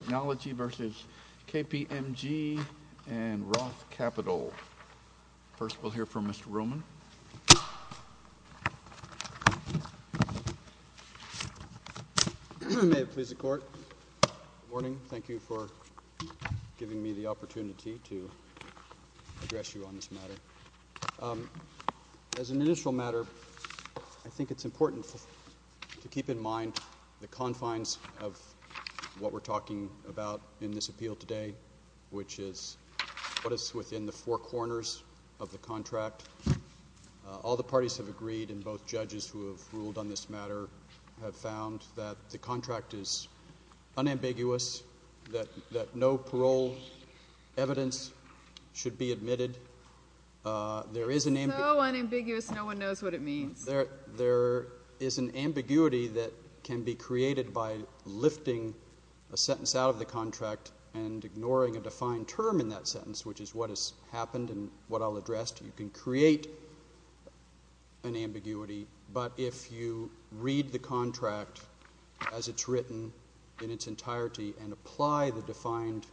Technology, Inc. v. KPMG and Roth Capital First, we'll hear from Mr. Ruhlman. May it please the Court. Good morning. Thank you for giving me the opportunity to address you on this matter. As an initial matter, I think it's important to keep in mind the confines of what we're talking about in this appeal today, which is what is within the four corners of the contract. All the parties have agreed, and both judges who have ruled on this matter have found that the contract is unambiguous, that no parole evidence should be admitted. It's so unambiguous, no one knows what it means. There is an ambiguity that can be created by lifting a sentence out of the contract and ignoring a defined term in that sentence, which is what has happened and what I'll address. You can create an ambiguity, but if you read the contract as it's written in its entirety and apply the defined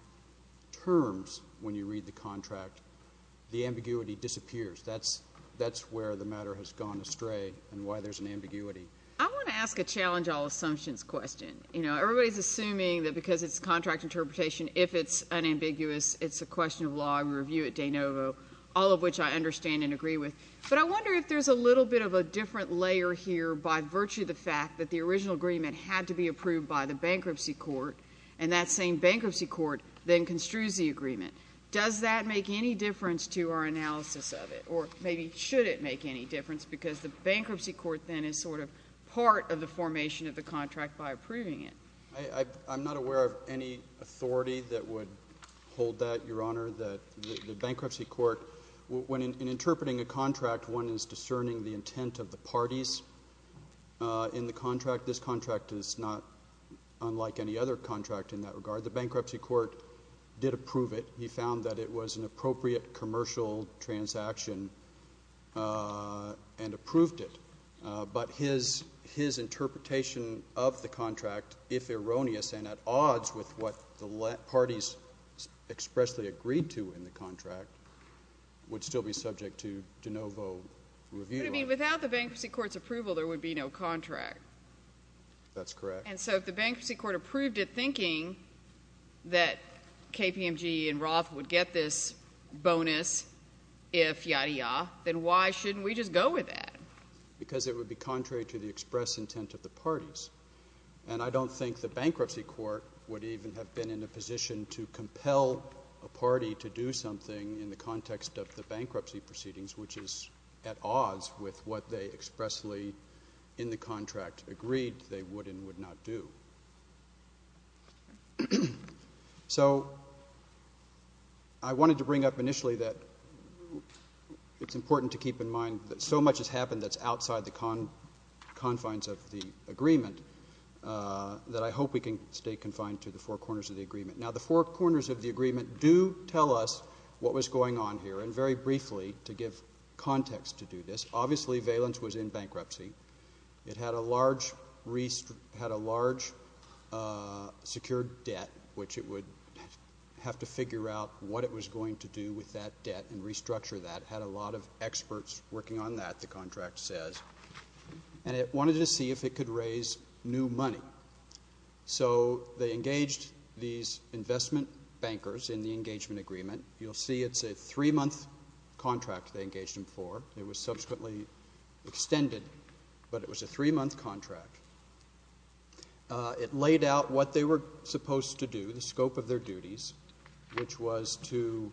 terms when you read the contract, the ambiguity disappears. That's where the matter has gone astray and why there's an ambiguity. I want to ask a challenge-all assumptions question. You know, everybody's assuming that because it's a contract interpretation, if it's unambiguous, it's a question of law. I'm a reviewer at De Novo, all of which I understand and agree with. But I wonder if there's a little bit of a different layer here by virtue of the fact that the original agreement had to be approved by the bankruptcy court and that same bankruptcy court then construes the agreement. Does that make any difference to our analysis of it, or maybe should it make any difference, because the bankruptcy court then is sort of part of the formation of the contract by approving it? I'm not aware of any authority that would hold that, Your Honor. The bankruptcy court, when interpreting a contract, one is discerning the intent of the parties in the contract. This contract is not unlike any other contract in that regard. The bankruptcy court did approve it. He found that it was an appropriate commercial transaction and approved it. But his interpretation of the contract, if erroneous and at odds with what the parties expressly agreed to in the contract, would still be subject to De Novo review. But, I mean, without the bankruptcy court's approval, there would be no contract. That's correct. And so if the bankruptcy court approved it thinking that KPMG and Roth would get this bonus if yada yada, then why shouldn't we just go with that? Because it would be contrary to the express intent of the parties. And I don't think the bankruptcy court would even have been in a position to compel a party to do something in the context of the bankruptcy proceedings, which is at odds with what they expressly in the contract agreed they would and would not do. So I wanted to bring up initially that it's important to keep in mind that so much has happened that's outside the confines of the agreement that I hope we can stay confined to the four corners of the agreement. Now, the four corners of the agreement do tell us what was going on here. And very briefly, to give context to do this, obviously Valence was in bankruptcy. It had a large secured debt, which it would have to figure out what it was going to do with that debt and restructure that. It had a lot of experts working on that, the contract says. And it wanted to see if it could raise new money. So they engaged these investment bankers in the engagement agreement. You'll see it's a three-month contract they engaged them for. It was subsequently extended, but it was a three-month contract. It laid out what they were supposed to do, the scope of their duties, which was to,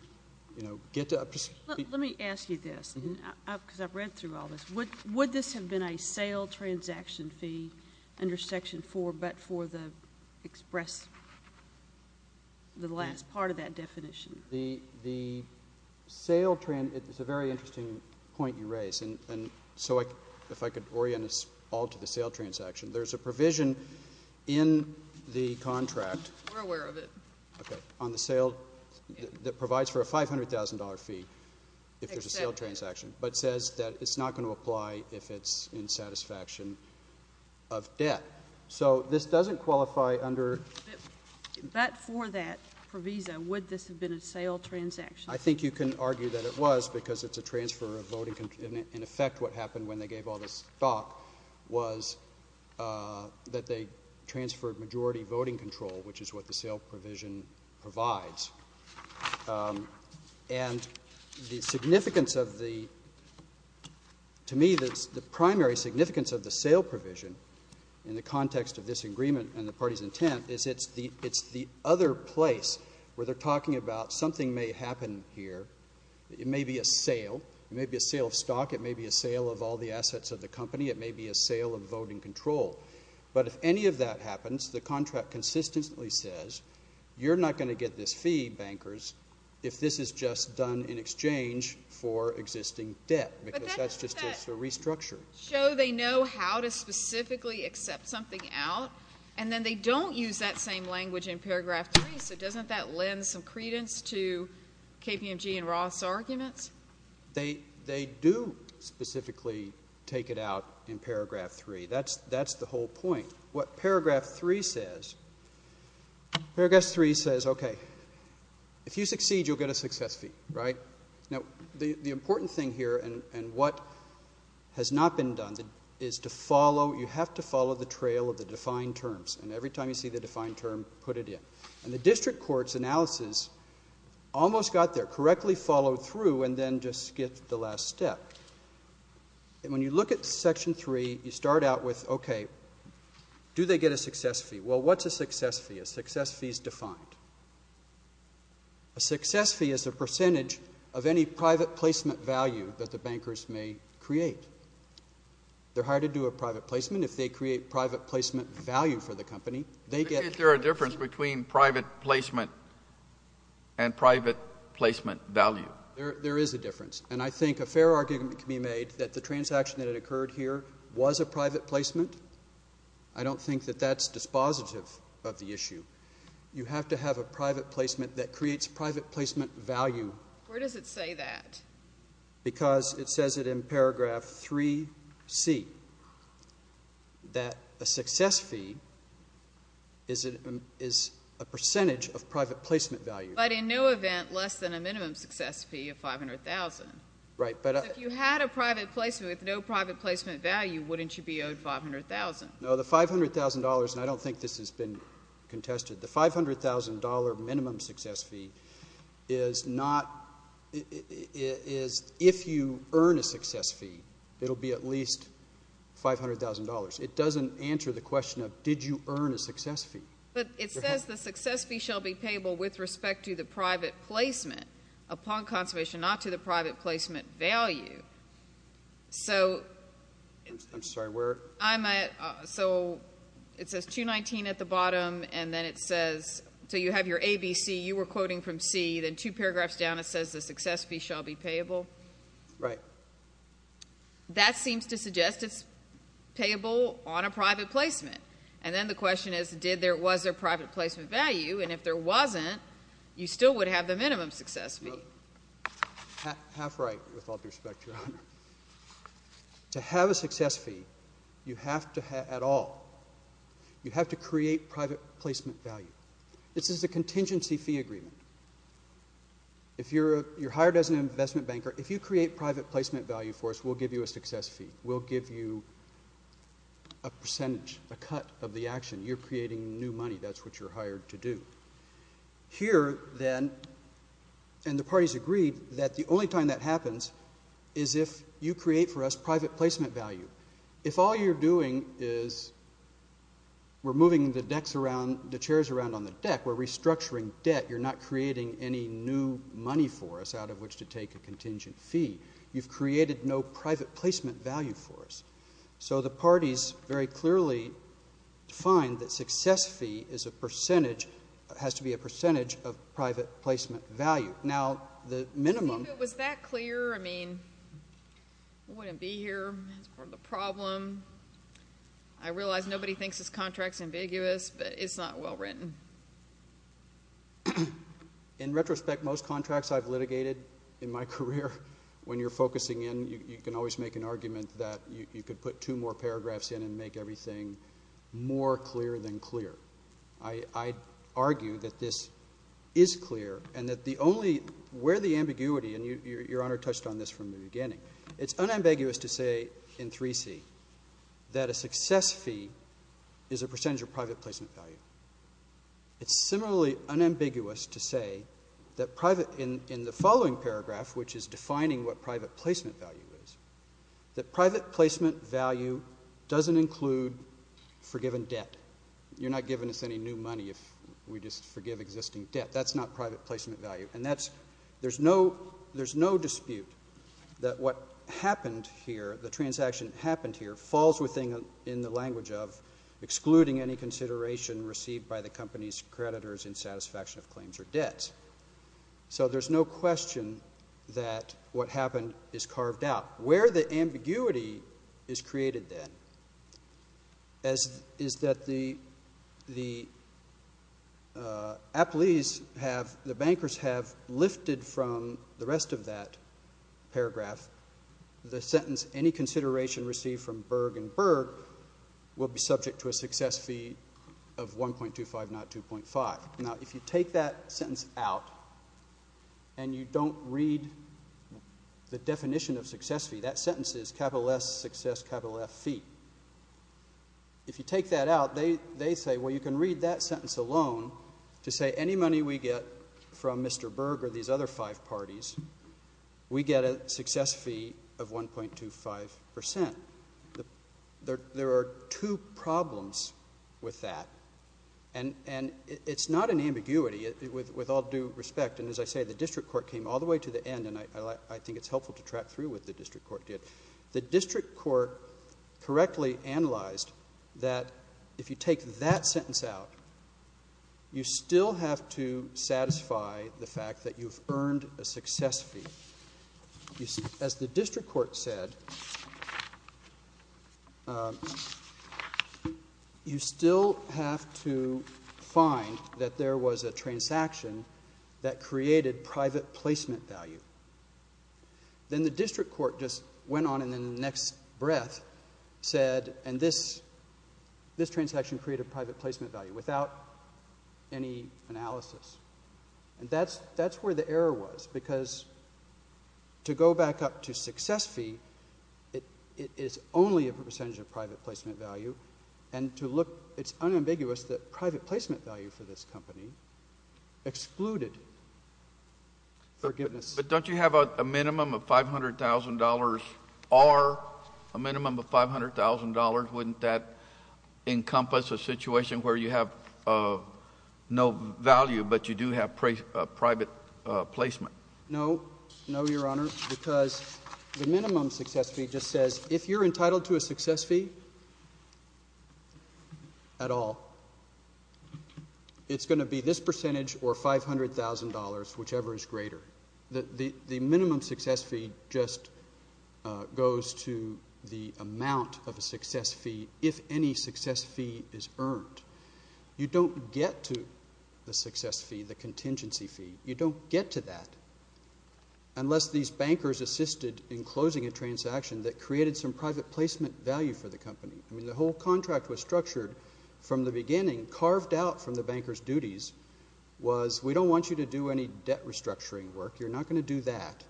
you know, get to a person. Let me ask you this, because I've read through all this. Would this have been a sale transaction fee under Section 4 but for the express, the last part of that definition? The sale is a very interesting point you raise. And so if I could orient us all to the sale transaction, there's a provision in the contract. We're aware of it. Okay. On the sale that provides for a $500,000 fee if there's a sale transaction, but says that it's not going to apply if it's in satisfaction of debt. So this doesn't qualify under — But for that, for Visa, would this have been a sale transaction? I think you can argue that it was because it's a transfer of voting control. In effect, what happened when they gave all this stock was that they transferred majority voting control, which is what the sale provision provides. And the significance of the — to me, the primary significance of the sale provision, in the context of this agreement and the party's intent, is it's the other place where they're talking about something may happen here. It may be a sale. It may be a sale of stock. It may be a sale of all the assets of the company. It may be a sale of voting control. But if any of that happens, the contract consistently says you're not going to get this fee, bankers, if this is just done in exchange for existing debt, because that's just a restructure. But doesn't that show they know how to specifically accept something out? And then they don't use that same language in paragraph 3, so doesn't that lend some credence to KPMG and Roth's arguments? They do specifically take it out in paragraph 3. That's the whole point. What paragraph 3 says, paragraph 3 says, okay, if you succeed, you'll get a success fee, right? Now, the important thing here and what has not been done is to follow — you have to follow the trail of the defined terms. And every time you see the defined term, put it in. And the district court's analysis almost got there, correctly followed through, and then just skipped the last step. And when you look at section 3, you start out with, okay, do they get a success fee? Well, what's a success fee? A success fee is defined. A success fee is a percentage of any private placement value that the bankers may create. They're hired to do a private placement. If they create private placement value for the company, they get — Is there a difference between private placement and private placement value? There is a difference. And I think a fair argument can be made that the transaction that had occurred here was a private placement. I don't think that that's dispositive of the issue. You have to have a private placement that creates private placement value. Where does it say that? Because it says it in paragraph 3C, that a success fee is a percentage of private placement value. But in no event less than a minimum success fee of $500,000. Right. If you had a private placement with no private placement value, wouldn't you be owed $500,000? No, the $500,000 — and I don't think this has been contested. The $500,000 minimum success fee is not — is if you earn a success fee, it will be at least $500,000. It doesn't answer the question of did you earn a success fee. But it says the success fee shall be payable with respect to the private placement upon conservation, not to the private placement value. So — I'm sorry, where? So it says 219 at the bottom, and then it says — so you have your ABC. You were quoting from C. Then two paragraphs down it says the success fee shall be payable. Right. That seems to suggest it's payable on a private placement. And then the question is did there — was there private placement value? And if there wasn't, you still would have the minimum success fee. Half right, with all due respect, Your Honor. To have a success fee, you have to — at all, you have to create private placement value. This is a contingency fee agreement. If you're hired as an investment banker, if you create private placement value for us, we'll give you a success fee. We'll give you a percentage, a cut of the action. You're creating new money. That's what you're hired to do. Here, then, and the parties agreed that the only time that happens is if you create for us private placement value. If all you're doing is we're moving the decks around, the chairs around on the deck, we're restructuring debt, you're not creating any new money for us out of which to take a contingent fee. You've created no private placement value for us. So the parties very clearly defined that success fee is a percentage — has to be a percentage of private placement value. Now, the minimum — Was that clear? I mean, we wouldn't be here. That's part of the problem. I realize nobody thinks this contract's ambiguous, but it's not well written. In retrospect, most contracts I've litigated in my career, when you're focusing in, you can always make an argument that you could put two more paragraphs in and make everything more clear than clear. I argue that this is clear and that the only — where the ambiguity, and Your Honor touched on this from the beginning, it's unambiguous to say in 3C that a success fee is a percentage of private placement value. It's similarly unambiguous to say that private — in the following paragraph, which is defining what private placement value is, that private placement value doesn't include forgiven debt. You're not giving us any new money if we just forgive existing debt. That's not private placement value. There's no dispute that what happened here, the transaction that happened here, falls within the language of excluding any consideration received by the company's creditors in satisfaction of claims or debts. So there's no question that what happened is carved out. Where the ambiguity is created, then, is that the appellees have — the bankers have lifted from the rest of that paragraph the sentence any consideration received from Berg and Berg will be subject to a success fee of 1.25, not 2.5. Now, if you take that sentence out and you don't read the definition of success fee, that sentence is capital S, success, capital F, fee. If you take that out, they say, well, you can read that sentence alone to say any money we get from Mr. Berg or these other five parties, we get a success fee of 1.25 percent. There are two problems with that, and it's not an ambiguity with all due respect. And as I say, the district court came all the way to the end, and I think it's helpful to track through what the district court did. The district court correctly analyzed that if you take that sentence out, you still have to satisfy the fact that you've earned a success fee. As the district court said, you still have to find that there was a transaction that created private placement value. Then the district court just went on and in the next breath said, and this transaction created private placement value without any analysis. And that's where the error was, because to go back up to success fee, it is only a percentage of private placement value. And to look, it's unambiguous that private placement value for this company excluded forgiveness. But don't you have a minimum of $500,000 or a minimum of $500,000? Wouldn't that encompass a situation where you have no value but you do have private placement? No. No, Your Honor, because the minimum success fee just says if you're entitled to a success fee at all, it's going to be this percentage or $500,000, whichever is greater. The minimum success fee just goes to the amount of a success fee if any success fee is earned. You don't get to the success fee, the contingency fee. You don't get to that unless these bankers assisted in closing a transaction that created some private placement value for the company. I mean, the whole contract was structured from the beginning, carved out from the banker's duties, was we don't want you to do any debt restructuring work. You're not going to do that.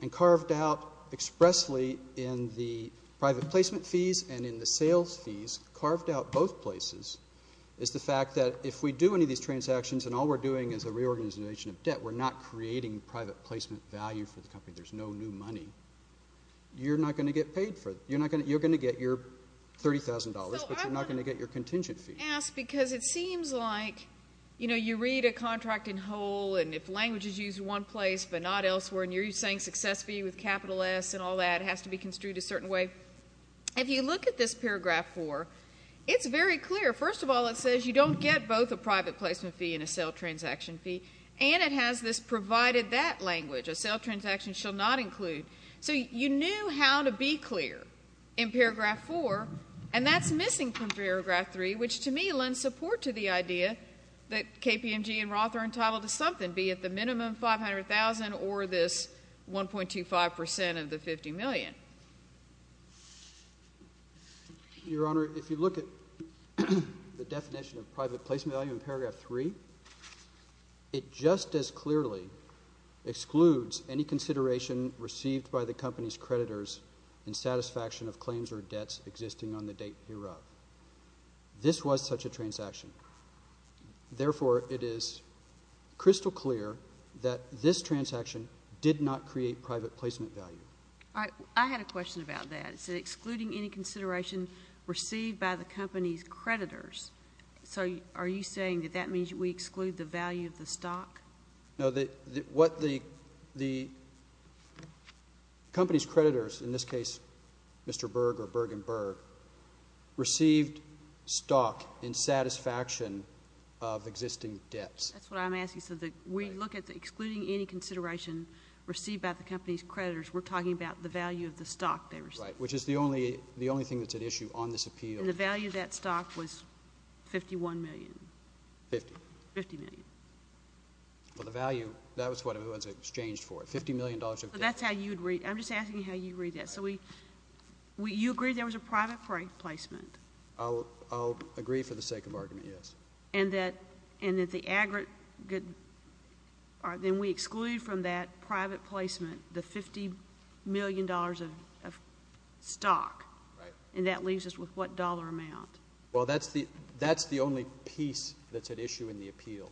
And carved out expressly in the private placement fees and in the sales fees, carved out both places, is the fact that if we do any of these transactions and all we're doing is a reorganization of debt, we're not creating private placement value for the company. There's no new money. You're not going to get paid for it. You're going to get your $30,000, but you're not going to get your contingency. I'm going to ask because it seems like, you know, you read a contract in whole and if language is used in one place but not elsewhere and you're saying success fee with capital S and all that has to be construed a certain way. If you look at this paragraph 4, it's very clear. First of all, it says you don't get both a private placement fee and a sale transaction fee, and it has this provided that language, a sale transaction shall not include. So you knew how to be clear in paragraph 4, and that's missing from paragraph 3, which to me lends support to the idea that KPMG and Roth are entitled to something, be it the minimum $500,000 or this 1.25% of the $50 million. Your Honor, if you look at the definition of private placement value in paragraph 3, it just as clearly excludes any consideration received by the company's creditors in satisfaction of claims or debts existing on the date hereof. This was such a transaction. Therefore, it is crystal clear that this transaction did not create private placement value. I had a question about that. It said excluding any consideration received by the company's creditors. So are you saying that that means we exclude the value of the stock? No. What the company's creditors, in this case Mr. Berg or Bergen Berg, received stock in satisfaction of existing debts. That's what I'm asking. So we look at excluding any consideration received by the company's creditors. We're talking about the value of the stock they received. Right, which is the only thing that's at issue on this appeal. And the value of that stock was $51 million. Fifty. Fifty million. Well, the value, that was what it was exchanged for, $50 million. That's how you'd read it. I'm just asking how you'd read that. So you agree there was a private placement? I'll agree for the sake of argument, yes. And that the aggregate, then we exclude from that private placement the $50 million of stock. Right. And that leaves us with what dollar amount? Well, that's the only piece that's at issue in the appeal.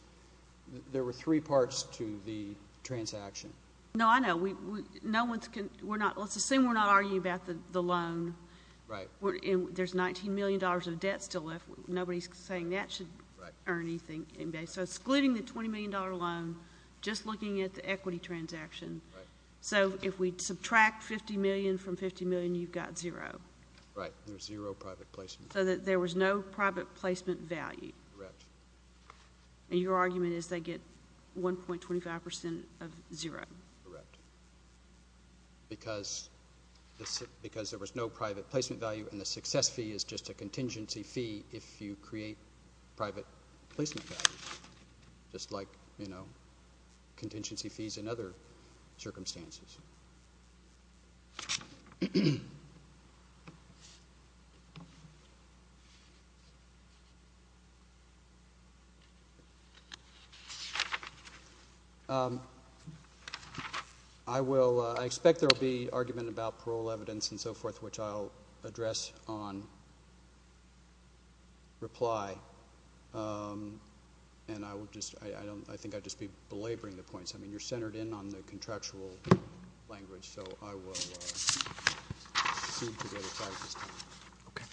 There were three parts to the transaction. No, I know. Let's assume we're not arguing about the loan. Right. There's $19 million of debt still left. Nobody's saying that should earn anything. So excluding the $20 million loan, just looking at the equity transaction. Right. So if we subtract $50 million from $50 million, you've got zero. Right. There's zero private placement. So there was no private placement value. Correct. And your argument is they get 1.25% of zero. Correct. Because there was no private placement value, and the success fee is just a contingency fee if you create private placement value, just like, you know, contingency fees in other circumstances. I expect there will be argument about parole evidence and so forth, which I'll address on reply. And I think I'd just be belaboring the points. I mean, you're centered in on the contractual language, so I will proceed to the other side at this time. Okay.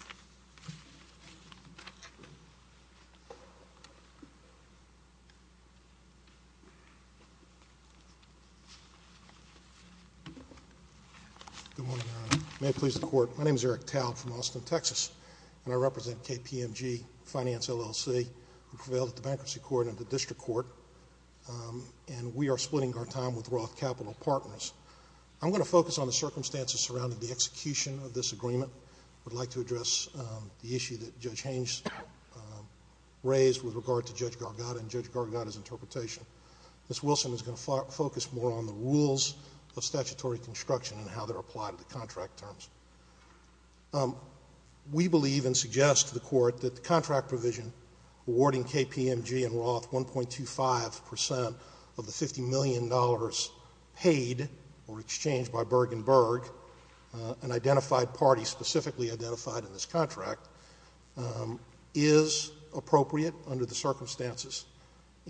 Good morning, Your Honor. May it please the Court. My name is Eric Talb from Austin, Texas, and I represent KPMG Finance, LLC, who prevailed at the Bankruptcy Court and the District Court. And we are splitting our time with Roth Capital Partners. I'm going to focus on the circumstances surrounding the execution of this agreement. I'd like to address the issue that Judge Haines raised with regard to Judge Gargata and Judge Gargata's interpretation. Ms. Wilson is going to focus more on the rules of statutory construction and how they're applied at the contract terms. We believe and suggest to the Court that the contract provision awarding KPMG and Roth 1.25% of the $50 million paid or exchanged by Berg and Berg, an identified party specifically identified in this contract, is appropriate under the circumstances,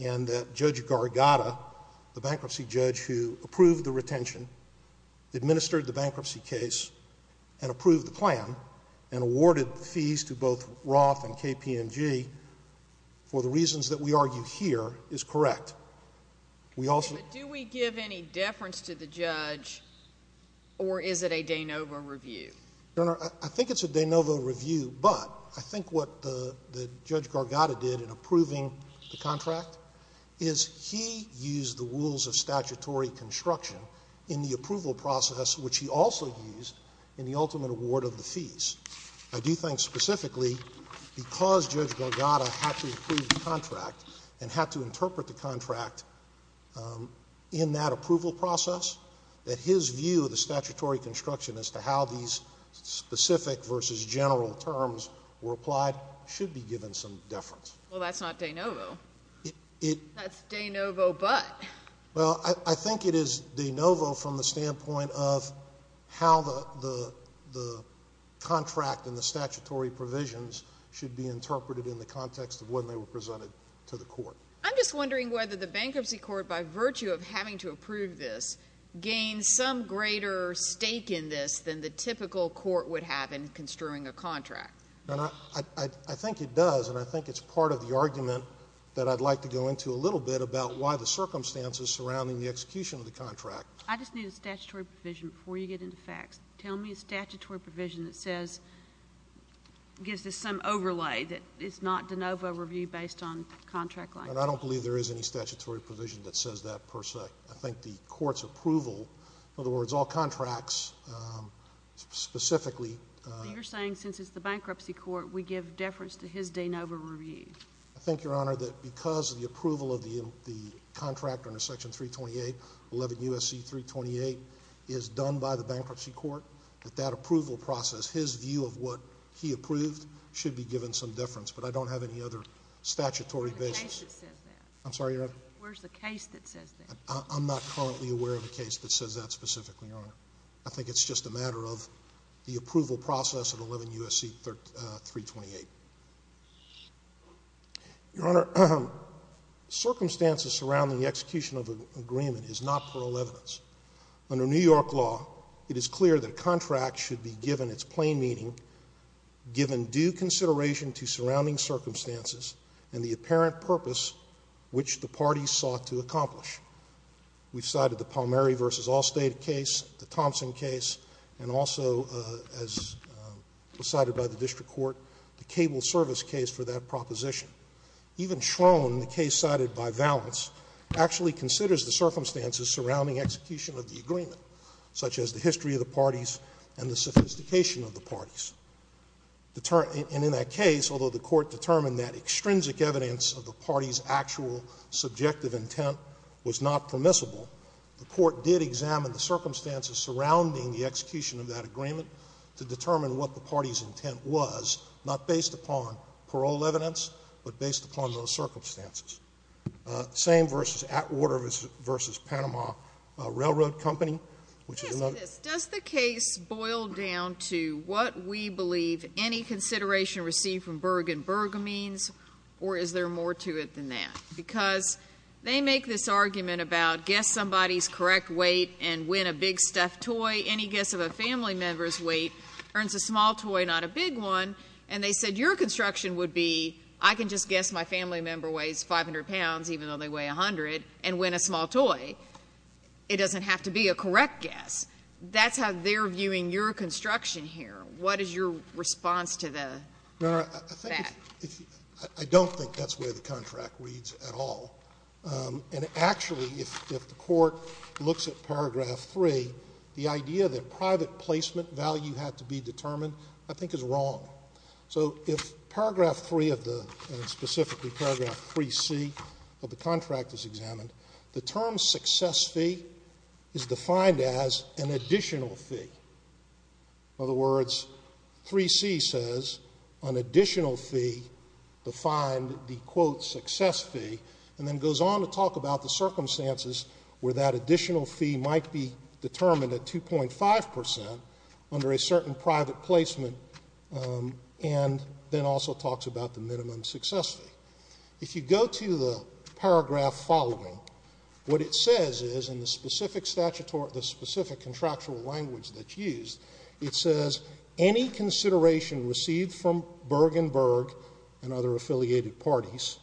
and that Judge Gargata, the bankruptcy judge who approved the retention, administered the bankruptcy case and approved the plan and awarded the fees to both Roth and KPMG for the reasons that we argue here is correct. Do we give any deference to the judge, or is it a de novo review? Your Honor, I think it's a de novo review, but I think what Judge Gargata did in approving the contract is he used the rules of statutory construction in the approval process, which he also used in the ultimate award of the fees. I do think specifically because Judge Gargata had to approve the contract and had to interpret the contract in that approval process, that his view of the statutory construction as to how these specific versus general terms were applied should be given some deference. Well, that's not de novo. That's de novo but. Well, I think it is de novo from the standpoint of how the contract and the statutory provisions should be interpreted in the context of when they were presented to the court. I'm just wondering whether the bankruptcy court, by virtue of having to approve this, gains some greater stake in this than the typical court would have in construing a contract. I think it does, and I think it's part of the argument that I'd like to go into a little bit about why the circumstances surrounding the execution of the contract. I just need a statutory provision before you get into facts. Tell me a statutory provision that says, gives us some overlay, that it's not de novo review based on contract like. I don't believe there is any statutory provision that says that per se. I think the court's approval, in other words, all contracts specifically. You're saying since it's the bankruptcy court, we give deference to his de novo review. I think, Your Honor, that because the approval of the contract under Section 328, 11 U.S.C. 328, is done by the bankruptcy court, that that approval process, his view of what he approved, should be given some deference, but I don't have any other statutory basis. Where's the case that says that? I'm sorry, Your Honor? Where's the case that says that? I'm not currently aware of a case that says that specifically, Your Honor. I think it's just a matter of the approval process of 11 U.S.C. 328. Your Honor, circumstances surrounding the execution of an agreement is not plural evidence. Under New York law, it is clear that a contract should be given its plain meaning, given due consideration to surrounding circumstances and the apparent purpose which the parties sought to accomplish. We've cited the Palmieri v. Allstate case, the Thompson case, and also, as was cited by the district court, the cable service case for that proposition. Even Schroen, the case cited by Valance, actually considers the circumstances surrounding execution of the agreement, such as the history of the parties and the sophistication of the parties. And in that case, although the Court determined that extrinsic evidence of the parties' actual subjective intent was not permissible, the Court did examine the circumstances surrounding the execution of that agreement to determine what the parties' intent was, not based upon parole evidence, but based upon those circumstances. The same versus Atwater v. Panama Railroad Company, which is another case. Does the case boil down to what we believe any consideration received from Berg and that, because they make this argument about guess somebody's correct weight and win a big stuffed toy, any guess of a family member's weight earns a small toy, not a big one, and they said your construction would be, I can just guess my family member weighs 500 pounds, even though they weigh 100, and win a small toy. It doesn't have to be a correct guess. That's how they're viewing your construction here. What is your response to the fact? I don't think that's where the contract reads at all. And actually, if the Court looks at paragraph 3, the idea that private placement value had to be determined I think is wrong. So if paragraph 3 of the, and specifically paragraph 3C of the contract is examined, the term success fee is defined as an additional fee. In other words, 3C says an additional fee defined the, quote, success fee, and then goes on to talk about the circumstances where that additional fee might be determined at 2.5 percent under a certain private placement, and then also talks about the minimum success fee. If you go to the paragraph following, what it says is in the specific statutory, the specific contractual language that's used, it says any consideration received from Bergen Berg and other affiliated parties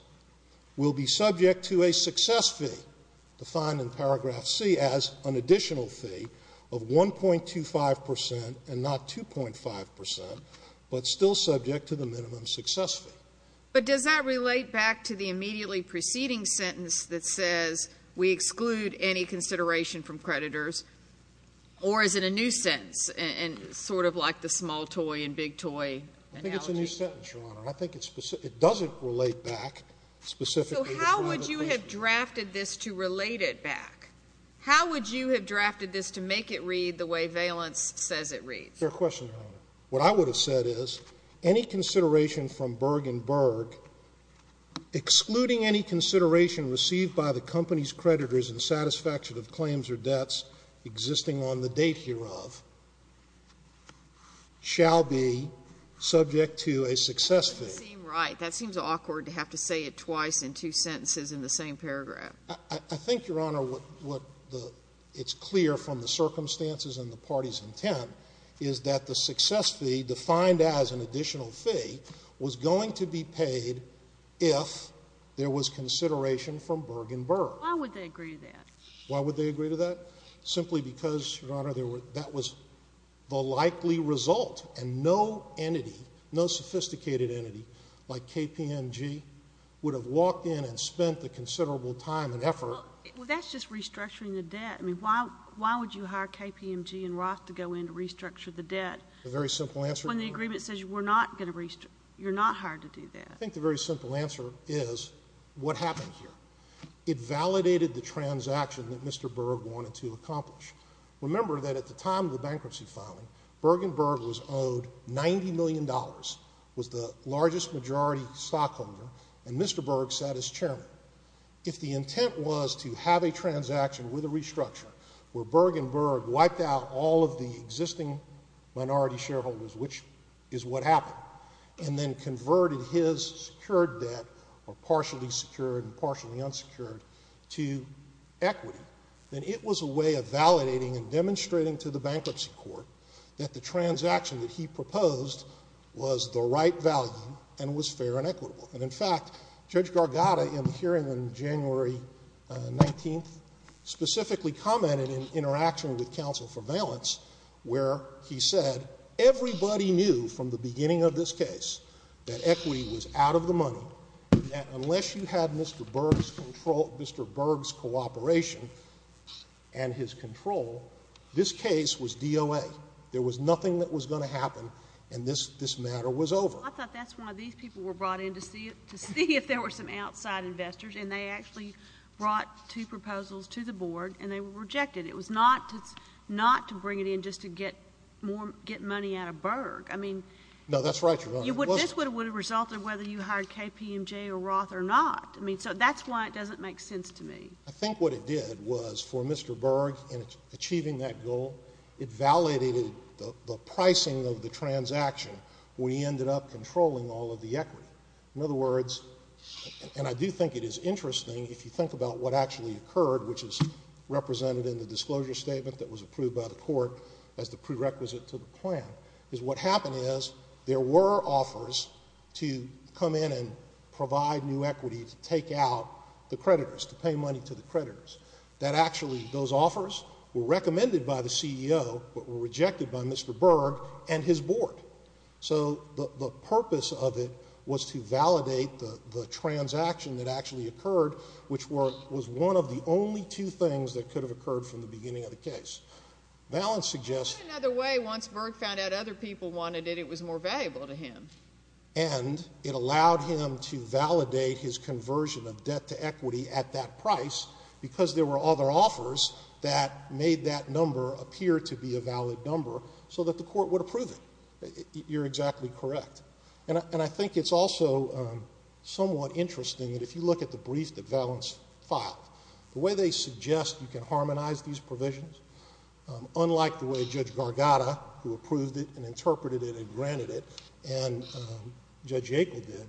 will be subject to a success fee defined in paragraph C as an additional fee of 1.25 percent and not 2.5 percent, but still subject to the minimum success fee. But does that relate back to the immediately preceding sentence that says we exclude any consideration from creditors, or is it a new sentence and sort of like the small toy and big toy analogy? I think it's a new sentence, Your Honor. I think it's specific. It doesn't relate back specifically to private placement. So how would you have drafted this to relate it back? How would you have drafted this to make it read the way Valence says it reads? Fair question, Your Honor. What I would have said is any consideration from Bergen Berg, excluding any consideration received by the company's creditors in satisfaction of claims or debts existing on the date hereof, shall be subject to a success fee. That doesn't seem right. That seems awkward to have to say it twice in two sentences in the same paragraph. I think, Your Honor, what the – it's clear from the circumstances and the party's intent is that the success fee defined as an additional fee was going to be paid if there was consideration from Bergen Berg. Why would they agree to that? Why would they agree to that? Simply because, Your Honor, that was the likely result, and no entity, no sophisticated entity like KPMG would have walked in and spent the considerable time and effort – Well, that's just restructuring the debt. I mean, why would you hire KPMG and Roth to go in and restructure the debt – A very simple answer, Your Honor. – when the agreement says we're not going to – you're not hired to do that? I think the very simple answer is what happened here. It validated the transaction that Mr. Berg wanted to accomplish. Remember that at the time of the bankruptcy filing, Bergen Berg was owed $90 million, was the largest majority stockholder, and Mr. Berg sat as chairman. If the intent was to have a transaction with a restructure where Bergen Berg wiped out all of the existing minority shareholders, which is what happened, and then converted his secured debt, or partially secured and partially unsecured, to equity, then it was a way of validating and demonstrating to the bankruptcy court that the transaction that he proposed was the right value and was fair and equitable. And, in fact, Judge Gargatta, in the hearing on January 19th, specifically commented in interaction with counsel for valence where he said everybody knew from the beginning of this case that equity was out of the money and that unless you had Mr. Berg's control – Mr. Berg's cooperation and his control, this case was DOA. There was nothing that was going to happen, and this matter was over. I thought that's why these people were brought in, to see if there were some outside investors, and they actually brought two proposals to the board, and they rejected it. It was not to bring it in just to get more – get money out of Berg. I mean – No, that's right, Your Honor. It wasn't. This would have resulted whether you hired KPMG or Roth or not. I mean, so that's why it doesn't make sense to me. I think what it did was for Mr. Berg in achieving that goal, it validated the pricing of the transaction when he ended up controlling all of the equity. In other words, and I do think it is interesting if you think about what actually occurred, which is represented in the disclosure statement that was approved by the board, what happened is there were offers to come in and provide new equity to take out the creditors, to pay money to the creditors. That actually – those offers were recommended by the CEO but were rejected by Mr. Berg and his board. So the purpose of it was to validate the transaction that actually occurred, which was one of the only two things that could have occurred from the beginning of the case. Valance suggests – In another way, once Berg found out other people wanted it, it was more valuable to him. And it allowed him to validate his conversion of debt to equity at that price because there were other offers that made that number appear to be a valid number so that the court would approve it. You're exactly correct. And I think it's also somewhat interesting that if you look at the brief that Judge Gargata, who approved it and interpreted it and granted it, and Judge Yackel did,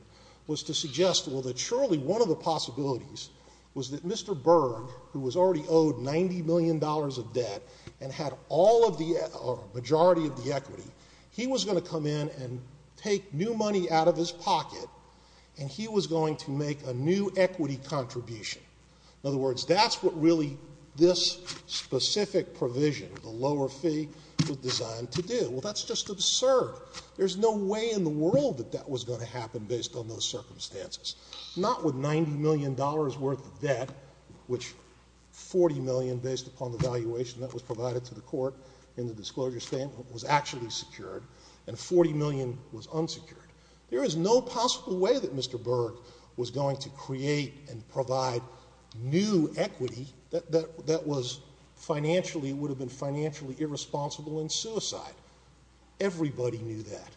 was to suggest, well, that surely one of the possibilities was that Mr. Berg, who was already owed $90 million of debt and had all of the – or a majority of the equity, he was going to come in and take new money out of his pocket and he was going to make a new equity contribution. In other words, that's what really this specific provision, the lower fee, was designed to do. Well, that's just absurd. There's no way in the world that that was going to happen based on those circumstances, not with $90 million worth of debt, which $40 million based upon the valuation that was provided to the court in the disclosure statement was actually secured, and $40 million was unsecured. There is no possible way that Mr. Berg was going to create and provide new equity that was financially – would have been financially irresponsible in suicide. Everybody knew that.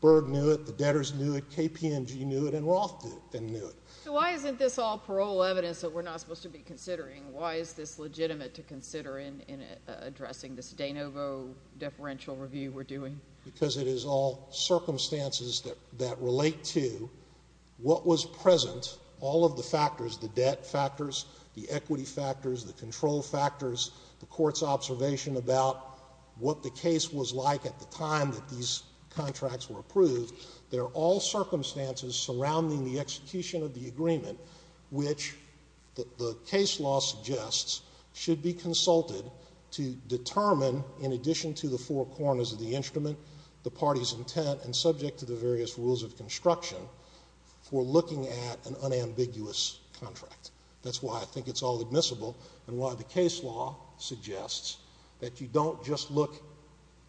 Berg knew it. The debtors knew it. KPMG knew it. And Roth knew it. So why isn't this all parole evidence that we're not supposed to be considering? Why is this legitimate to consider in addressing this de novo deferential review we're doing? Because it is all circumstances that relate to what was present, all of the factors, the debt factors, the equity factors, the control factors, the court's observation about what the case was like at the time that these contracts were approved. They're all circumstances surrounding the execution of the agreement, which the case law suggests should be consulted to determine, in addition to the four corners of the instrument, the party's intent and subject to the various rules of construction for looking at an unambiguous contract. That's why I think it's all admissible and why the case law suggests that you don't just look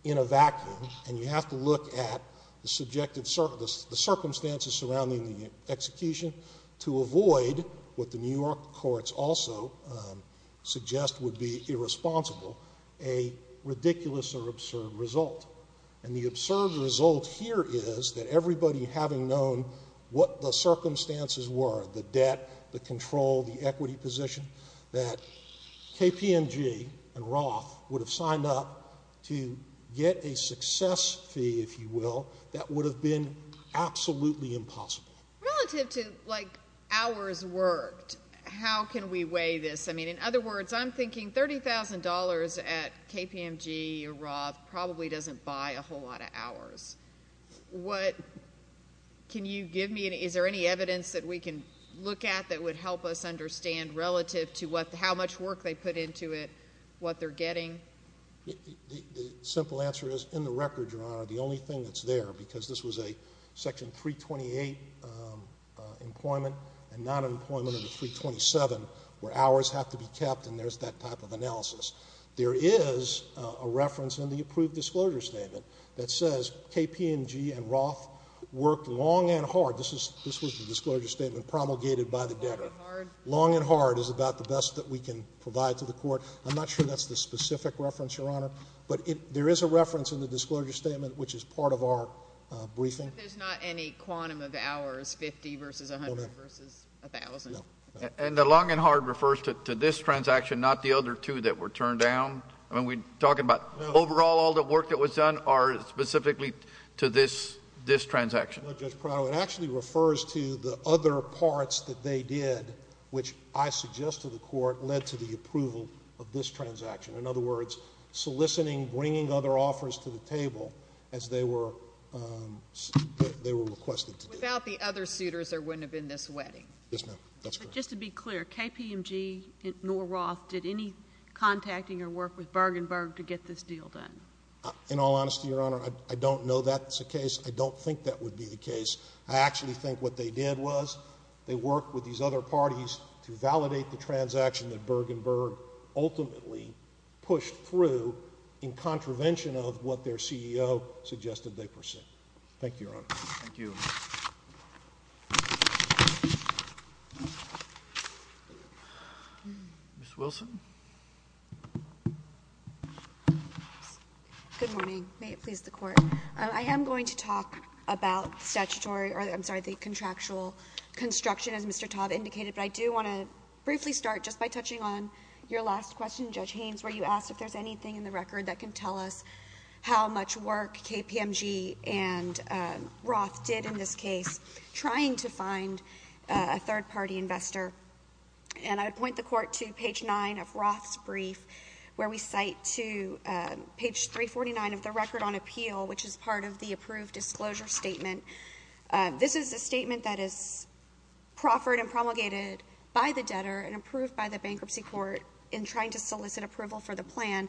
in a vacuum and you have to look at the subjective – the circumstances surrounding the execution to avoid what the New York courts also suggest would be observed result here is that everybody having known what the circumstances were, the debt, the control, the equity position, that KPMG and Roth would have signed up to get a success fee, if you will, that would have been absolutely impossible. Relative to, like, hours worked, how can we weigh this? I mean, in other words, I'm thinking $30,000 at KPMG or Roth probably doesn't buy a whole lot of hours. What – can you give me – is there any evidence that we can look at that would help us understand relative to what – how much work they put into it, what they're getting? The simple answer is, in the record, Your Honor, the only thing that's there, because this was a section 328 employment and nonemployment under 327, where hours have to be kept and there's that type of analysis. There is a reference in the approved disclosure statement that says KPMG and Roth worked long and hard. This was the disclosure statement promulgated by the debtor. Long and hard is about the best that we can provide to the Court. I'm not sure that's the specific reference, Your Honor. But there is a reference in the disclosure statement which is part of our briefing. But there's not any quantum of hours, 50 versus 100 versus 1,000? No. And the long and hard refers to this transaction, not the other two that were turned down? I mean, we're talking about overall all the work that was done or specifically to this transaction? No, Judge Prado. It actually refers to the other parts that they did, which I suggest to the Court, led to the approval of this transaction. In other words, soliciting, bringing other offers to the table as they were requested to do. Without the other suitors, there wouldn't have been this wedding? Yes, ma'am. That's correct. Just to be clear, KPMG nor Roth did any contacting or work with Bergenberg to get this deal done? In all honesty, Your Honor, I don't know that's the case. I don't think that would be the case. I actually think what they did was they worked with these other parties to validate the transaction that Bergenberg ultimately pushed through in contravention of what their CEO suggested they pursue. Thank you, Your Honor. Thank you. Ms. Wilson. Good morning. May it please the Court. I am going to talk about statutory or, I'm sorry, the contractual construction as Mr. Todd indicated. But I do want to briefly start just by touching on your last question, Judge Haynes, where you asked if there's anything in the record that can tell us how much work KPMG and Roth did in this case, trying to find a third-party investor. And I would point the Court to page 9 of Roth's brief, where we cite to page 349 of the record on appeal, which is part of the approved disclosure statement. This is a statement that is proffered and promulgated by the debtor and approved by the bankruptcy court in trying to solicit approval for the plan.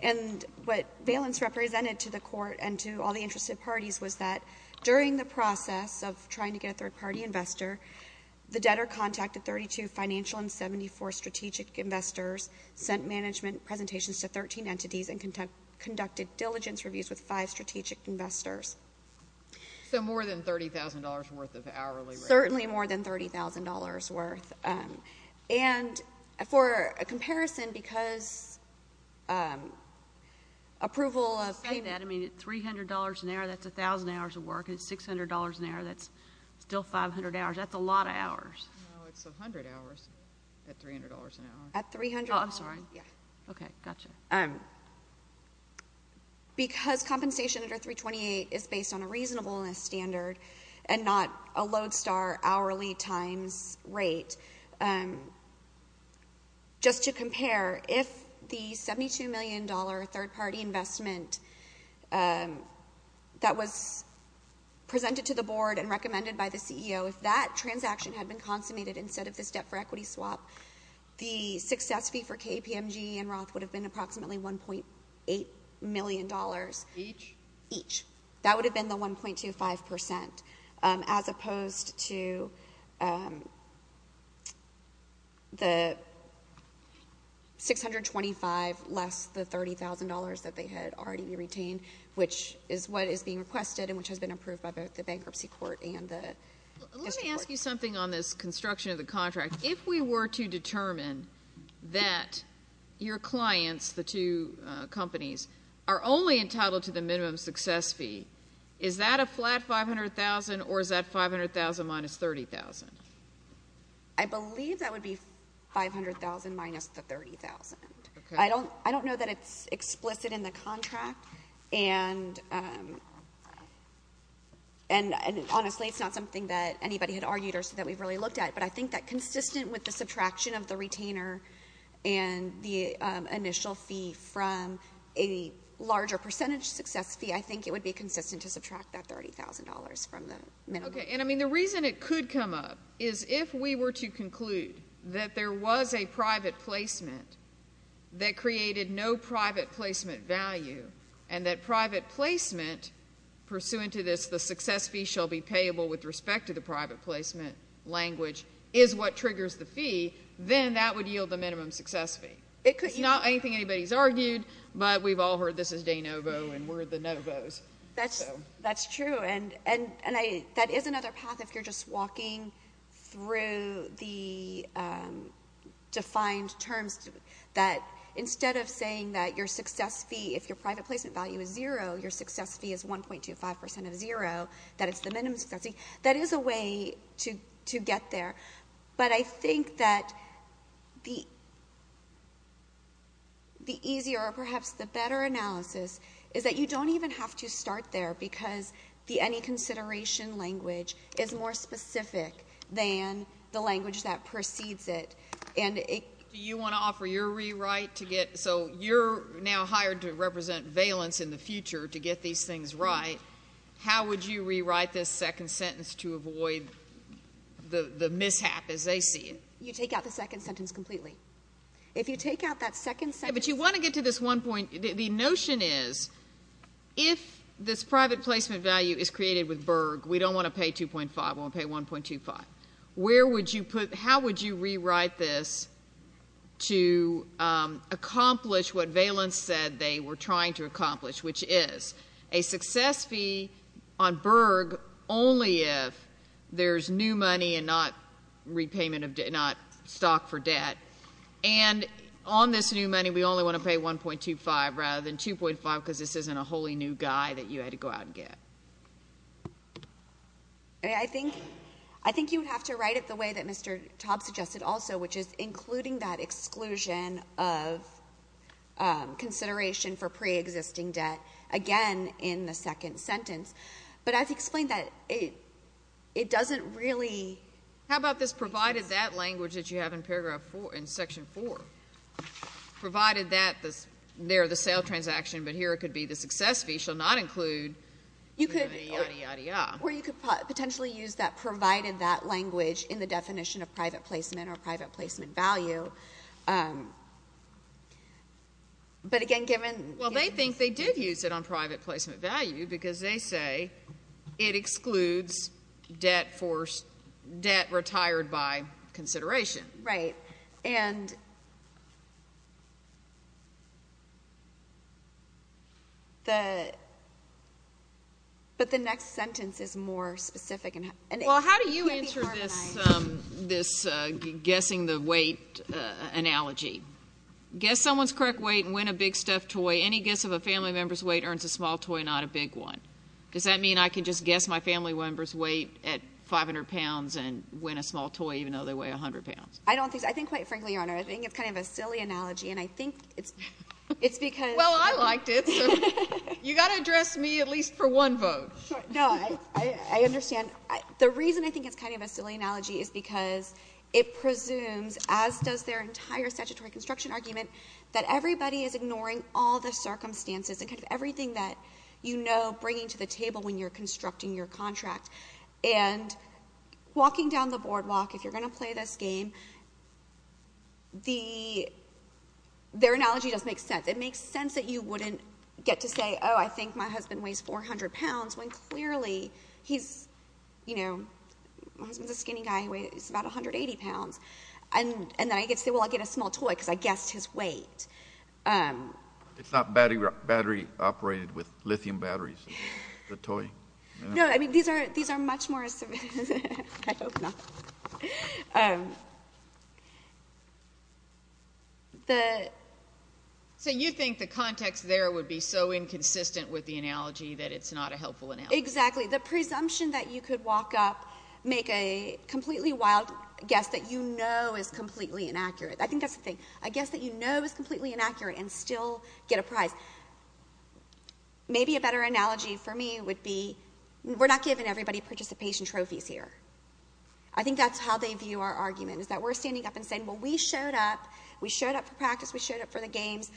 And what valence represented to the Court and to all the interested parties was that during the process of trying to get a third-party investor, the debtor contacted 32 financial and 74 strategic investors, sent management presentations to 13 entities, and conducted diligence reviews with five strategic investors. So more than $30,000 worth of hourly rate. Certainly more than $30,000 worth. And for a comparison, because approval of... I say that. I mean, at $300 an hour, that's 1,000 hours of work. At $600 an hour, that's still 500 hours. That's a lot of hours. No, it's 100 hours at $300 an hour. At $300... Oh, I'm sorry. Yeah. Okay. Gotcha. Because compensation under 328 is based on a reasonableness standard and not a lodestar hourly times rate, just to compare, if the $72 million third-party investment that was presented to the board and recommended by the CEO, if that transaction had been consummated instead of this debt-for-equity swap, the success fee for KPMG and Roth would have been approximately $1.8 million. Each? Each. That would have been the 1.25%, as opposed to the $625 less the $30,000 that they had already retained, which is what is being requested and which has been approved by both the bankruptcy court and the district court. Let me ask you something on this construction of the contract. If we were to determine that your clients, the two companies, are only entitled to the minimum success fee, is that a flat $500,000 or is that $500,000 minus $30,000? I believe that would be $500,000 minus the $30,000. Okay. I don't know that it's explicit in the contract, and honestly it's not something that anybody had argued or said that we've really looked at, but I think that consistent with the subtraction of the retainer and the initial fee from a larger percentage success fee, I think it would be consistent to subtract that $30,000 from the minimum. Okay. And, I mean, the reason it could come up is if we were to conclude that there was a private placement that created no private placement value and that private placement, pursuant to this, the success fee shall be payable with respect to the private placement language, is what triggers the fee, then that would yield the minimum success fee. It's not anything anybody's argued, but we've all heard this is de novo and we're the novos. That's true. And that is another path, if you're just walking through the defined terms, that instead of saying that your success fee, if your private placement value is zero, your success fee is 1.25% of zero, that it's the minimum success fee, that is a way to get there. But I think that the easier or perhaps the better analysis is that you don't even have to start there because the any consideration language is more specific than the language that precedes it. Do you want to offer your rewrite to get? So you're now hired to represent Valence in the future to get these things right. How would you rewrite this second sentence to avoid the mishap as they see it? You take out the second sentence completely. If you take out that second sentence. But you want to get to this one point. The notion is if this private placement value is created with Berg, we don't want to pay 2.5, we want to pay 1.25. How would you rewrite this to accomplish what Valence said they were trying to accomplish, which is a success fee on Berg only if there's new money and not stock for debt. And on this new money, we only want to pay 1.25 rather than 2.5 because this isn't a wholly new guy that you had to go out and get. I think you would have to write it the way that Mr. Taube suggested also, which is including that exclusion of consideration for preexisting debt again in the second sentence. But as he explained that, it doesn't really. How about this provided that language that you have in paragraph 4, in section 4, provided that there the sale transaction, but here it could be the success fee, which shall not include the yadda, yadda, yadda. Or you could potentially use that provided that language in the definition of private placement or private placement value. But, again, given – Well, they think they did use it on private placement value because they say it excludes debt retired by consideration. Right. And the – but the next sentence is more specific. Well, how do you answer this guessing the weight analogy? Guess someone's correct weight and win a big stuffed toy. Any guess of a family member's weight earns a small toy, not a big one. Does that mean I can just guess my family member's weight at 500 pounds and win a small toy even though they weigh 100 pounds? I don't think so. I think, quite frankly, Your Honor, I think it's kind of a silly analogy. And I think it's because – Well, I liked it. So you've got to address me at least for one vote. No. I understand. The reason I think it's kind of a silly analogy is because it presumes, as does their entire statutory construction argument, that everybody is ignoring all the circumstances and kind of everything that you know bringing to the table when you're constructing your contract. And walking down the boardwalk, if you're going to play this game, their analogy doesn't make sense. It makes sense that you wouldn't get to say, oh, I think my husband weighs 400 pounds when clearly he's, you know, my husband's a skinny guy. He weighs about 180 pounds. And then I get to say, well, I get a small toy because I guessed his weight. It's not battery operated with lithium batteries, the toy. No, I mean, these are much more – I hope not. So you think the context there would be so inconsistent with the analogy that it's not a helpful analogy. Exactly. The presumption that you could walk up, make a completely wild guess that you know is completely inaccurate. I think that's the thing. A guess that you know is completely inaccurate and still get a prize. Maybe a better analogy for me would be we're not giving everybody participation trophies here. I think that's how they view our argument, is that we're standing up and saying, well, we showed up. We showed up for practice. We showed up for the games.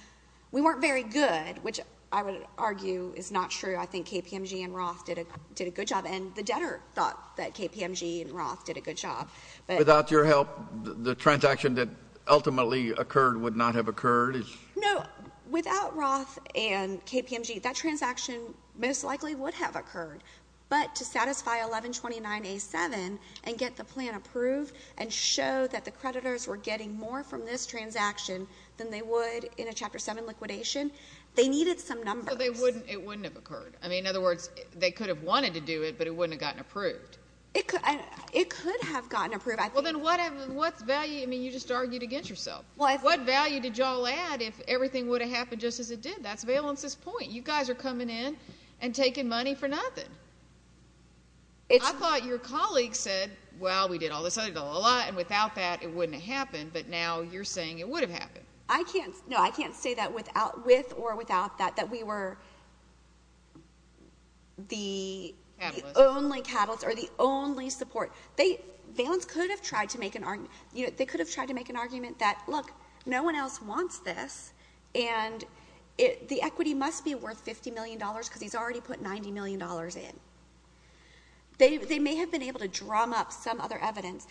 We weren't very good, which I would argue is not true. I think KPMG and Roth did a good job, and the debtor thought that KPMG and Roth did a good job. Without your help, the transaction that ultimately occurred would not have occurred? No. Without Roth and KPMG, that transaction most likely would have occurred. But to satisfy 1129A7 and get the plan approved and show that the creditors were getting more from this transaction than they would in a Chapter 7 liquidation, they needed some numbers. So it wouldn't have occurred. I mean, in other words, they could have wanted to do it, but it wouldn't have gotten approved. It could have gotten approved. Well, then what value – I mean, you just argued against yourself. What value did you all add if everything would have happened just as it did? That's Valens' point. You guys are coming in and taking money for nothing. I thought your colleague said, well, we did all this, and without that it wouldn't have happened. But now you're saying it would have happened. I can't say that with or without that, that we were the only catalyst or the only support. Valens could have tried to make an argument. Look, no one else wants this, and the equity must be worth $50 million because he's already put $90 million in. They may have been able to drum up some other evidence.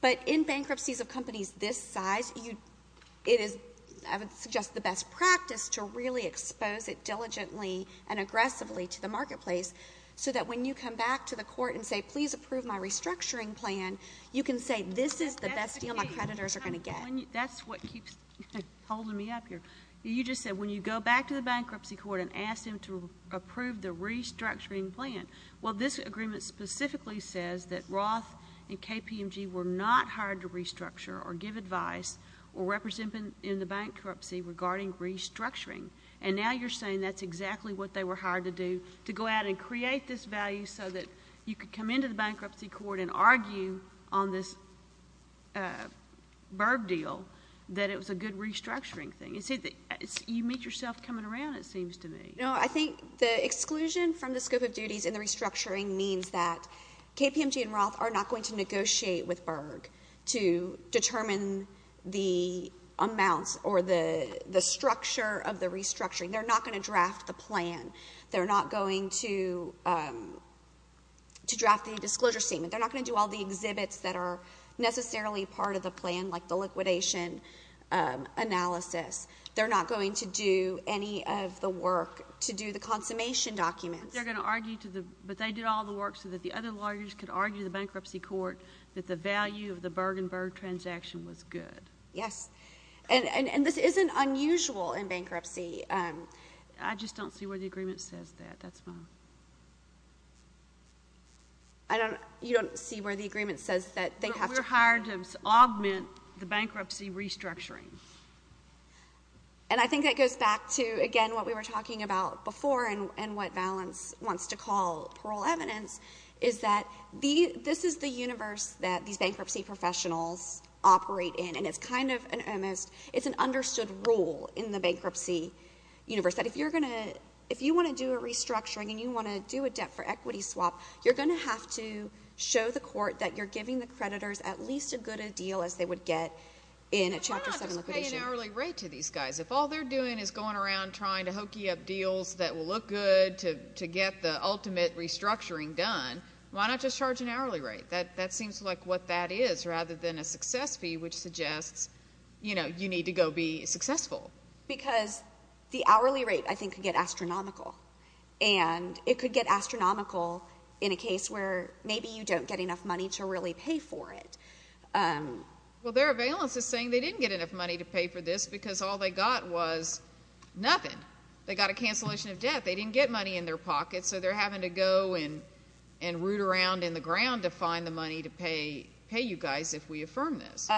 But in bankruptcies of companies this size, it is, I would suggest, the best practice to really expose it diligently and aggressively to the marketplace so that when you come back to the court and say, please approve my restructuring plan, you can say this is the best deal my creditors are going to get. That's what keeps holding me up here. You just said when you go back to the bankruptcy court and ask them to approve the restructuring plan, well, this agreement specifically says that Roth and KPMG were not hired to restructure or give advice or represent in the bankruptcy regarding restructuring. And now you're saying that's exactly what they were hired to do, to go out and create this value so that you could come into the bankruptcy court and argue on this Berg deal that it was a good restructuring thing. You meet yourself coming around, it seems to me. No, I think the exclusion from the scope of duties in the restructuring means that KPMG and Roth are not going to negotiate with Berg to determine the amounts or the structure of the restructuring. They're not going to draft the plan. They're not going to draft the disclosure statement. They're not going to do all the exhibits that are necessarily part of the plan, like the liquidation analysis. They're not going to do any of the work to do the consummation documents. But they did all the work so that the other lawyers could argue in the bankruptcy court that the value of the Berg and Berg transaction was good. Yes. And this isn't unusual in bankruptcy. I just don't see where the agreement says that. That's fine. You don't see where the agreement says that they have to? We're hired to augment the bankruptcy restructuring. And I think that goes back to, again, what we were talking about before and what Valance wants to call parole evidence, is that this is the universe that these bankruptcy professionals operate in, and it's kind of an understood rule in the bankruptcy universe that if you want to do a restructuring and you want to do a debt-for-equity swap, you're going to have to show the court that you're giving the creditors at least as good a deal as they would get in a Chapter 7 liquidation. Why not just pay an hourly rate to these guys? If all they're doing is going around trying to hokey up deals that will look good to get the ultimate restructuring done, why not just charge an hourly rate? That seems like what that is rather than a success fee, which suggests you need to go be successful. Because the hourly rate, I think, could get astronomical, and it could get astronomical in a case where maybe you don't get enough money to really pay for it. Well, there are Valances saying they didn't get enough money to pay for this because all they got was nothing. They got a cancellation of debt. They didn't get money in their pockets, so they're having to go and root around in the ground to find the money to pay you guys if we affirm this.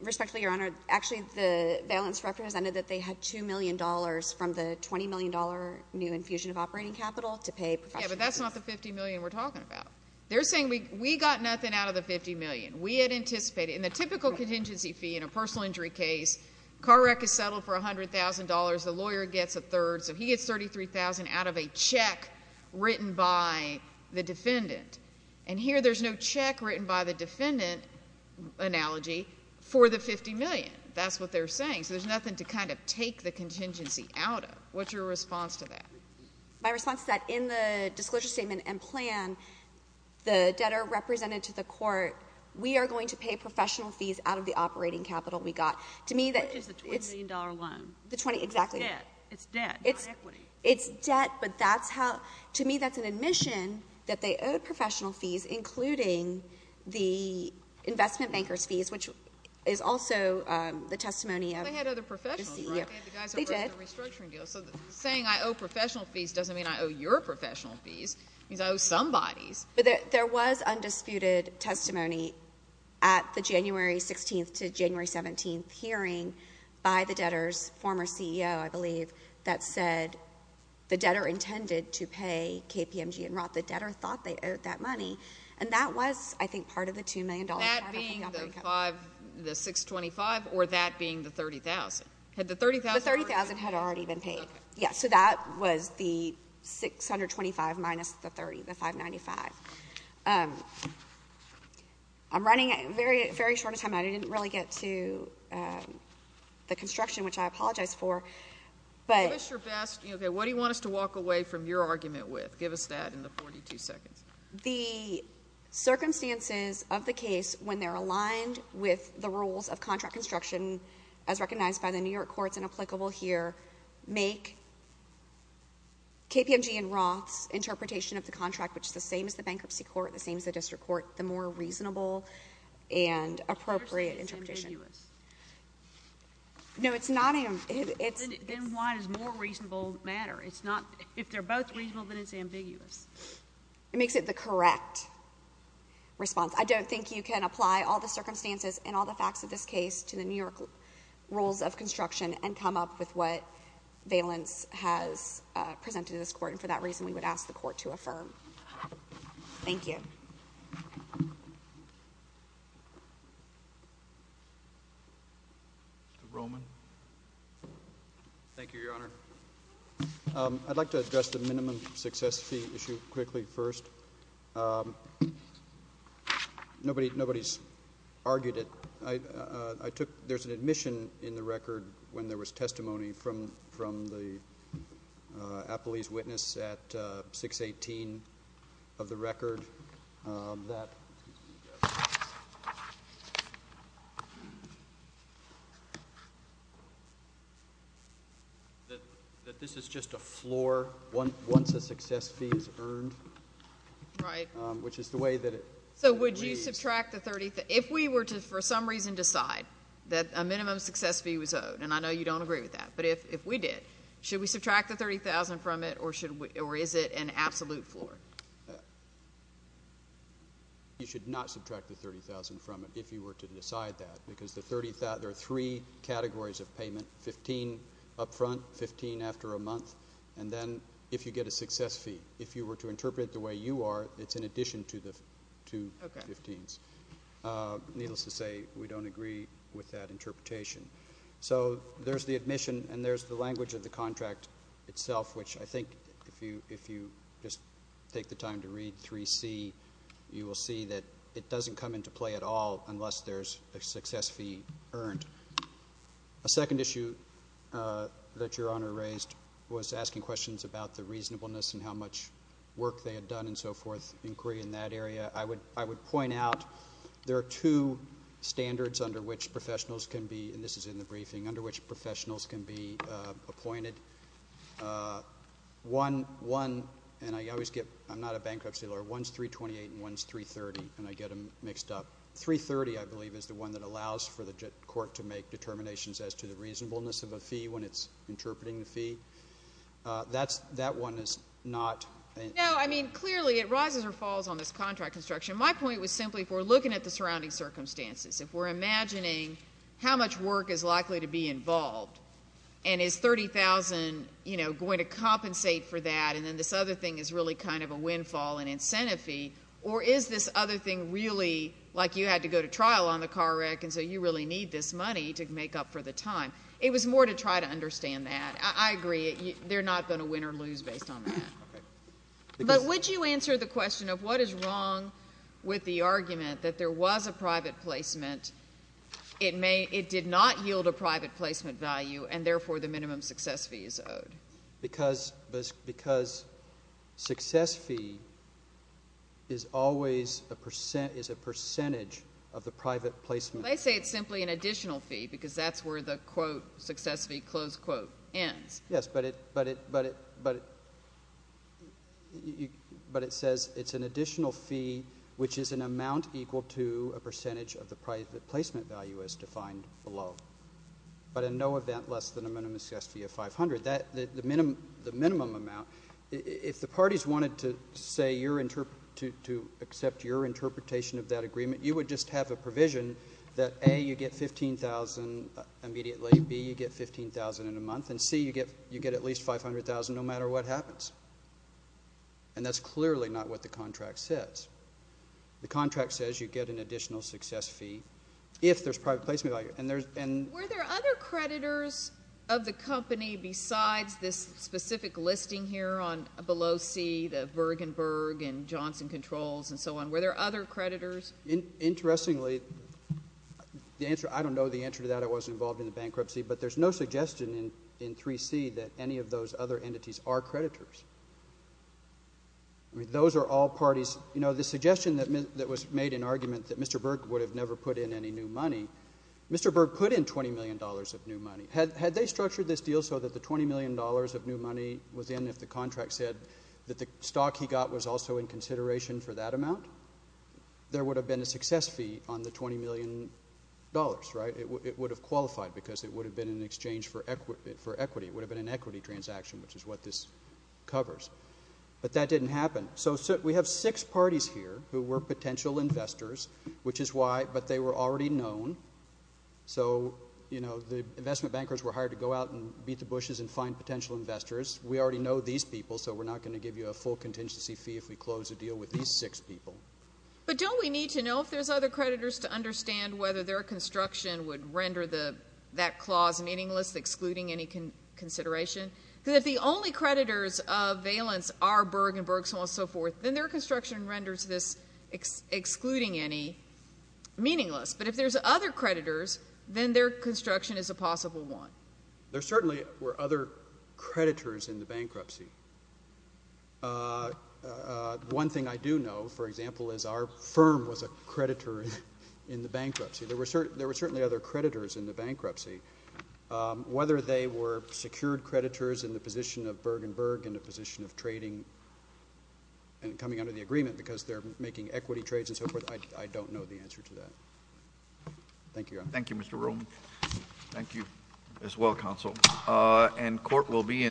Respectfully, Your Honor, actually the Valance representative said they had $2 million from the $20 million new infusion of operating capital to pay professional fees. Yeah, but that's not the $50 million we're talking about. They're saying we got nothing out of the $50 million. We had anticipated, in the typical contingency fee in a personal injury case, car wreck is settled for $100,000, the lawyer gets a third, so he gets $33,000 out of a check written by the defendant. And here there's no check written by the defendant analogy for the $50 million. That's what they're saying. So there's nothing to kind of take the contingency out of. What's your response to that? My response is that in the disclosure statement and plan, the debtor represented to the court, we are going to pay professional fees out of the operating capital we got. Which is the $20 million loan. Exactly. It's debt, not equity. It's debt, but to me that's an admission that they owed professional fees, including the investment banker's fees, which is also the testimony of the CEO. They had other professionals, right? They had the guys who wrote the restructuring deal. So saying I owe professional fees doesn't mean I owe your professional fees. It means I owe somebody's. But there was undisputed testimony at the January 16th to January 17th hearing by the debtor's former CEO, I believe, that said the debtor intended to pay KPMG and Roth. The debtor thought they owed that money. And that was, I think, part of the $2 million. That being the $625,000 or that being the $30,000? The $30,000 had already been paid. So that was the $625,000 minus the $595,000. I'm running very short of time. I didn't really get to the construction, which I apologize for. Give us your best. What do you want us to walk away from your argument with? Give us that in the 42 seconds. The circumstances of the case when they're aligned with the rules of contract construction, as recognized by the New York courts and applicable here, make KPMG and Roth's interpretation of the contract, which is the same as the bankruptcy court, the same as the district court, the more reasonable and appropriate interpretation. You're saying it's ambiguous. No, it's not. Then why does more reasonable matter? If they're both reasonable, then it's ambiguous. It makes it the correct response. I don't think you can apply all the circumstances and all the facts of this case to the New York rules of construction and come up with what valence has presented to this court, and for that reason we would ask the court to affirm. Thank you. Mr. Roman. Thank you, Your Honor. I'd like to address the minimum success fee issue quickly first. Nobody's argued it. There's an admission in the record when there was testimony from the appellee's witness at 618 of the record that this is just a floor once a success fee is earned. Right. Which is the way that it is. So would you subtract the 30? If we were to for some reason decide that a minimum success fee was owed, and I know you don't agree with that, but if we did, should we subtract the 30,000 from it, or is it an absolute floor? You should not subtract the 30,000 from it if you were to decide that, because there are three categories of payment, 15 up front, 15 after a month, and then if you get a success fee. If you were to interpret it the way you are, it's in addition to the two 15s. Needless to say, we don't agree with that interpretation. So there's the admission and there's the language of the contract itself, which I think if you just take the time to read 3C, you will see that it doesn't come into play at all unless there's a success fee earned. A second issue that Your Honor raised was asking questions about the reasonableness and how much work they had done and so forth, inquiry in that area. I would point out there are two standards under which professionals can be, and this is in the briefing, under which professionals can be appointed. One, and I always get, I'm not a bankruptcy lawyer, one's 328 and one's 330, and I get them mixed up. 330, I believe, is the one that allows for the court to make determinations as to the reasonableness of a fee when it's interpreting the fee. That one is not. No, I mean, clearly it rises or falls on this contract construction. My point was simply if we're looking at the surrounding circumstances, if we're imagining how much work is likely to be involved and is $30,000 going to compensate for that and then this other thing is really kind of a windfall, an incentive fee, or is this other thing really like you had to go to trial on the car wreck and so you really need this money to make up for the time. It was more to try to understand that. I agree. They're not going to win or lose based on that. Okay. But would you answer the question of what is wrong with the argument that there was a private placement, it did not yield a private placement value, and therefore the minimum success fee is owed? Because success fee is always a percentage of the private placement. But I say it's simply an additional fee because that's where the quote success fee close quote ends. Yes, but it says it's an additional fee, which is an amount equal to a percentage of the private placement value as defined below, but in no event less than a minimum success fee of 500. The minimum amount, if the parties wanted to accept your interpretation of that agreement, you would just have a provision that, A, you get 15,000 immediately, B, you get 15,000 in a month, and, C, you get at least 500,000 no matter what happens. And that's clearly not what the contract says. The contract says you get an additional success fee if there's private placement value. Were there other creditors of the company besides this specific listing here on below C, the Bergenberg and Johnson Controls and so on? Were there other creditors? Interestingly, I don't know the answer to that. I wasn't involved in the bankruptcy. But there's no suggestion in 3C that any of those other entities are creditors. I mean, those are all parties. You know, the suggestion that was made in argument that Mr. Burke would have never put in any new money, Mr. Burke put in $20 million of new money. Had they structured this deal so that the $20 million of new money was in if the contract said that the stock he got was also in consideration for that amount, there would have been a success fee on the $20 million, right? It would have qualified because it would have been in exchange for equity. It would have been an equity transaction, which is what this covers. But that didn't happen. So we have six parties here who were potential investors, which is why, but they were already known. So, you know, the investment bankers were hired to go out and beat the bushes and find potential investors. We already know these people, so we're not going to give you a full contingency fee if we close a deal with these six people. But don't we need to know if there's other creditors to understand whether their construction would render that clause meaningless, excluding any consideration? Because if the only creditors of Valence are Burke and Burke, so on and so forth, then their construction renders this excluding any meaningless. But if there's other creditors, then their construction is a possible one. There certainly were other creditors in the bankruptcy. One thing I do know, for example, is our firm was a creditor in the bankruptcy. There were certainly other creditors in the bankruptcy. Whether they were secured creditors in the position of Burke and Burke in a position of trading and coming under the agreement because they're making equity trades and so forth, I don't know the answer to that. Thank you. Thank you, Mr. Ruhl. Thank you as well, Counsel. And court will be in session.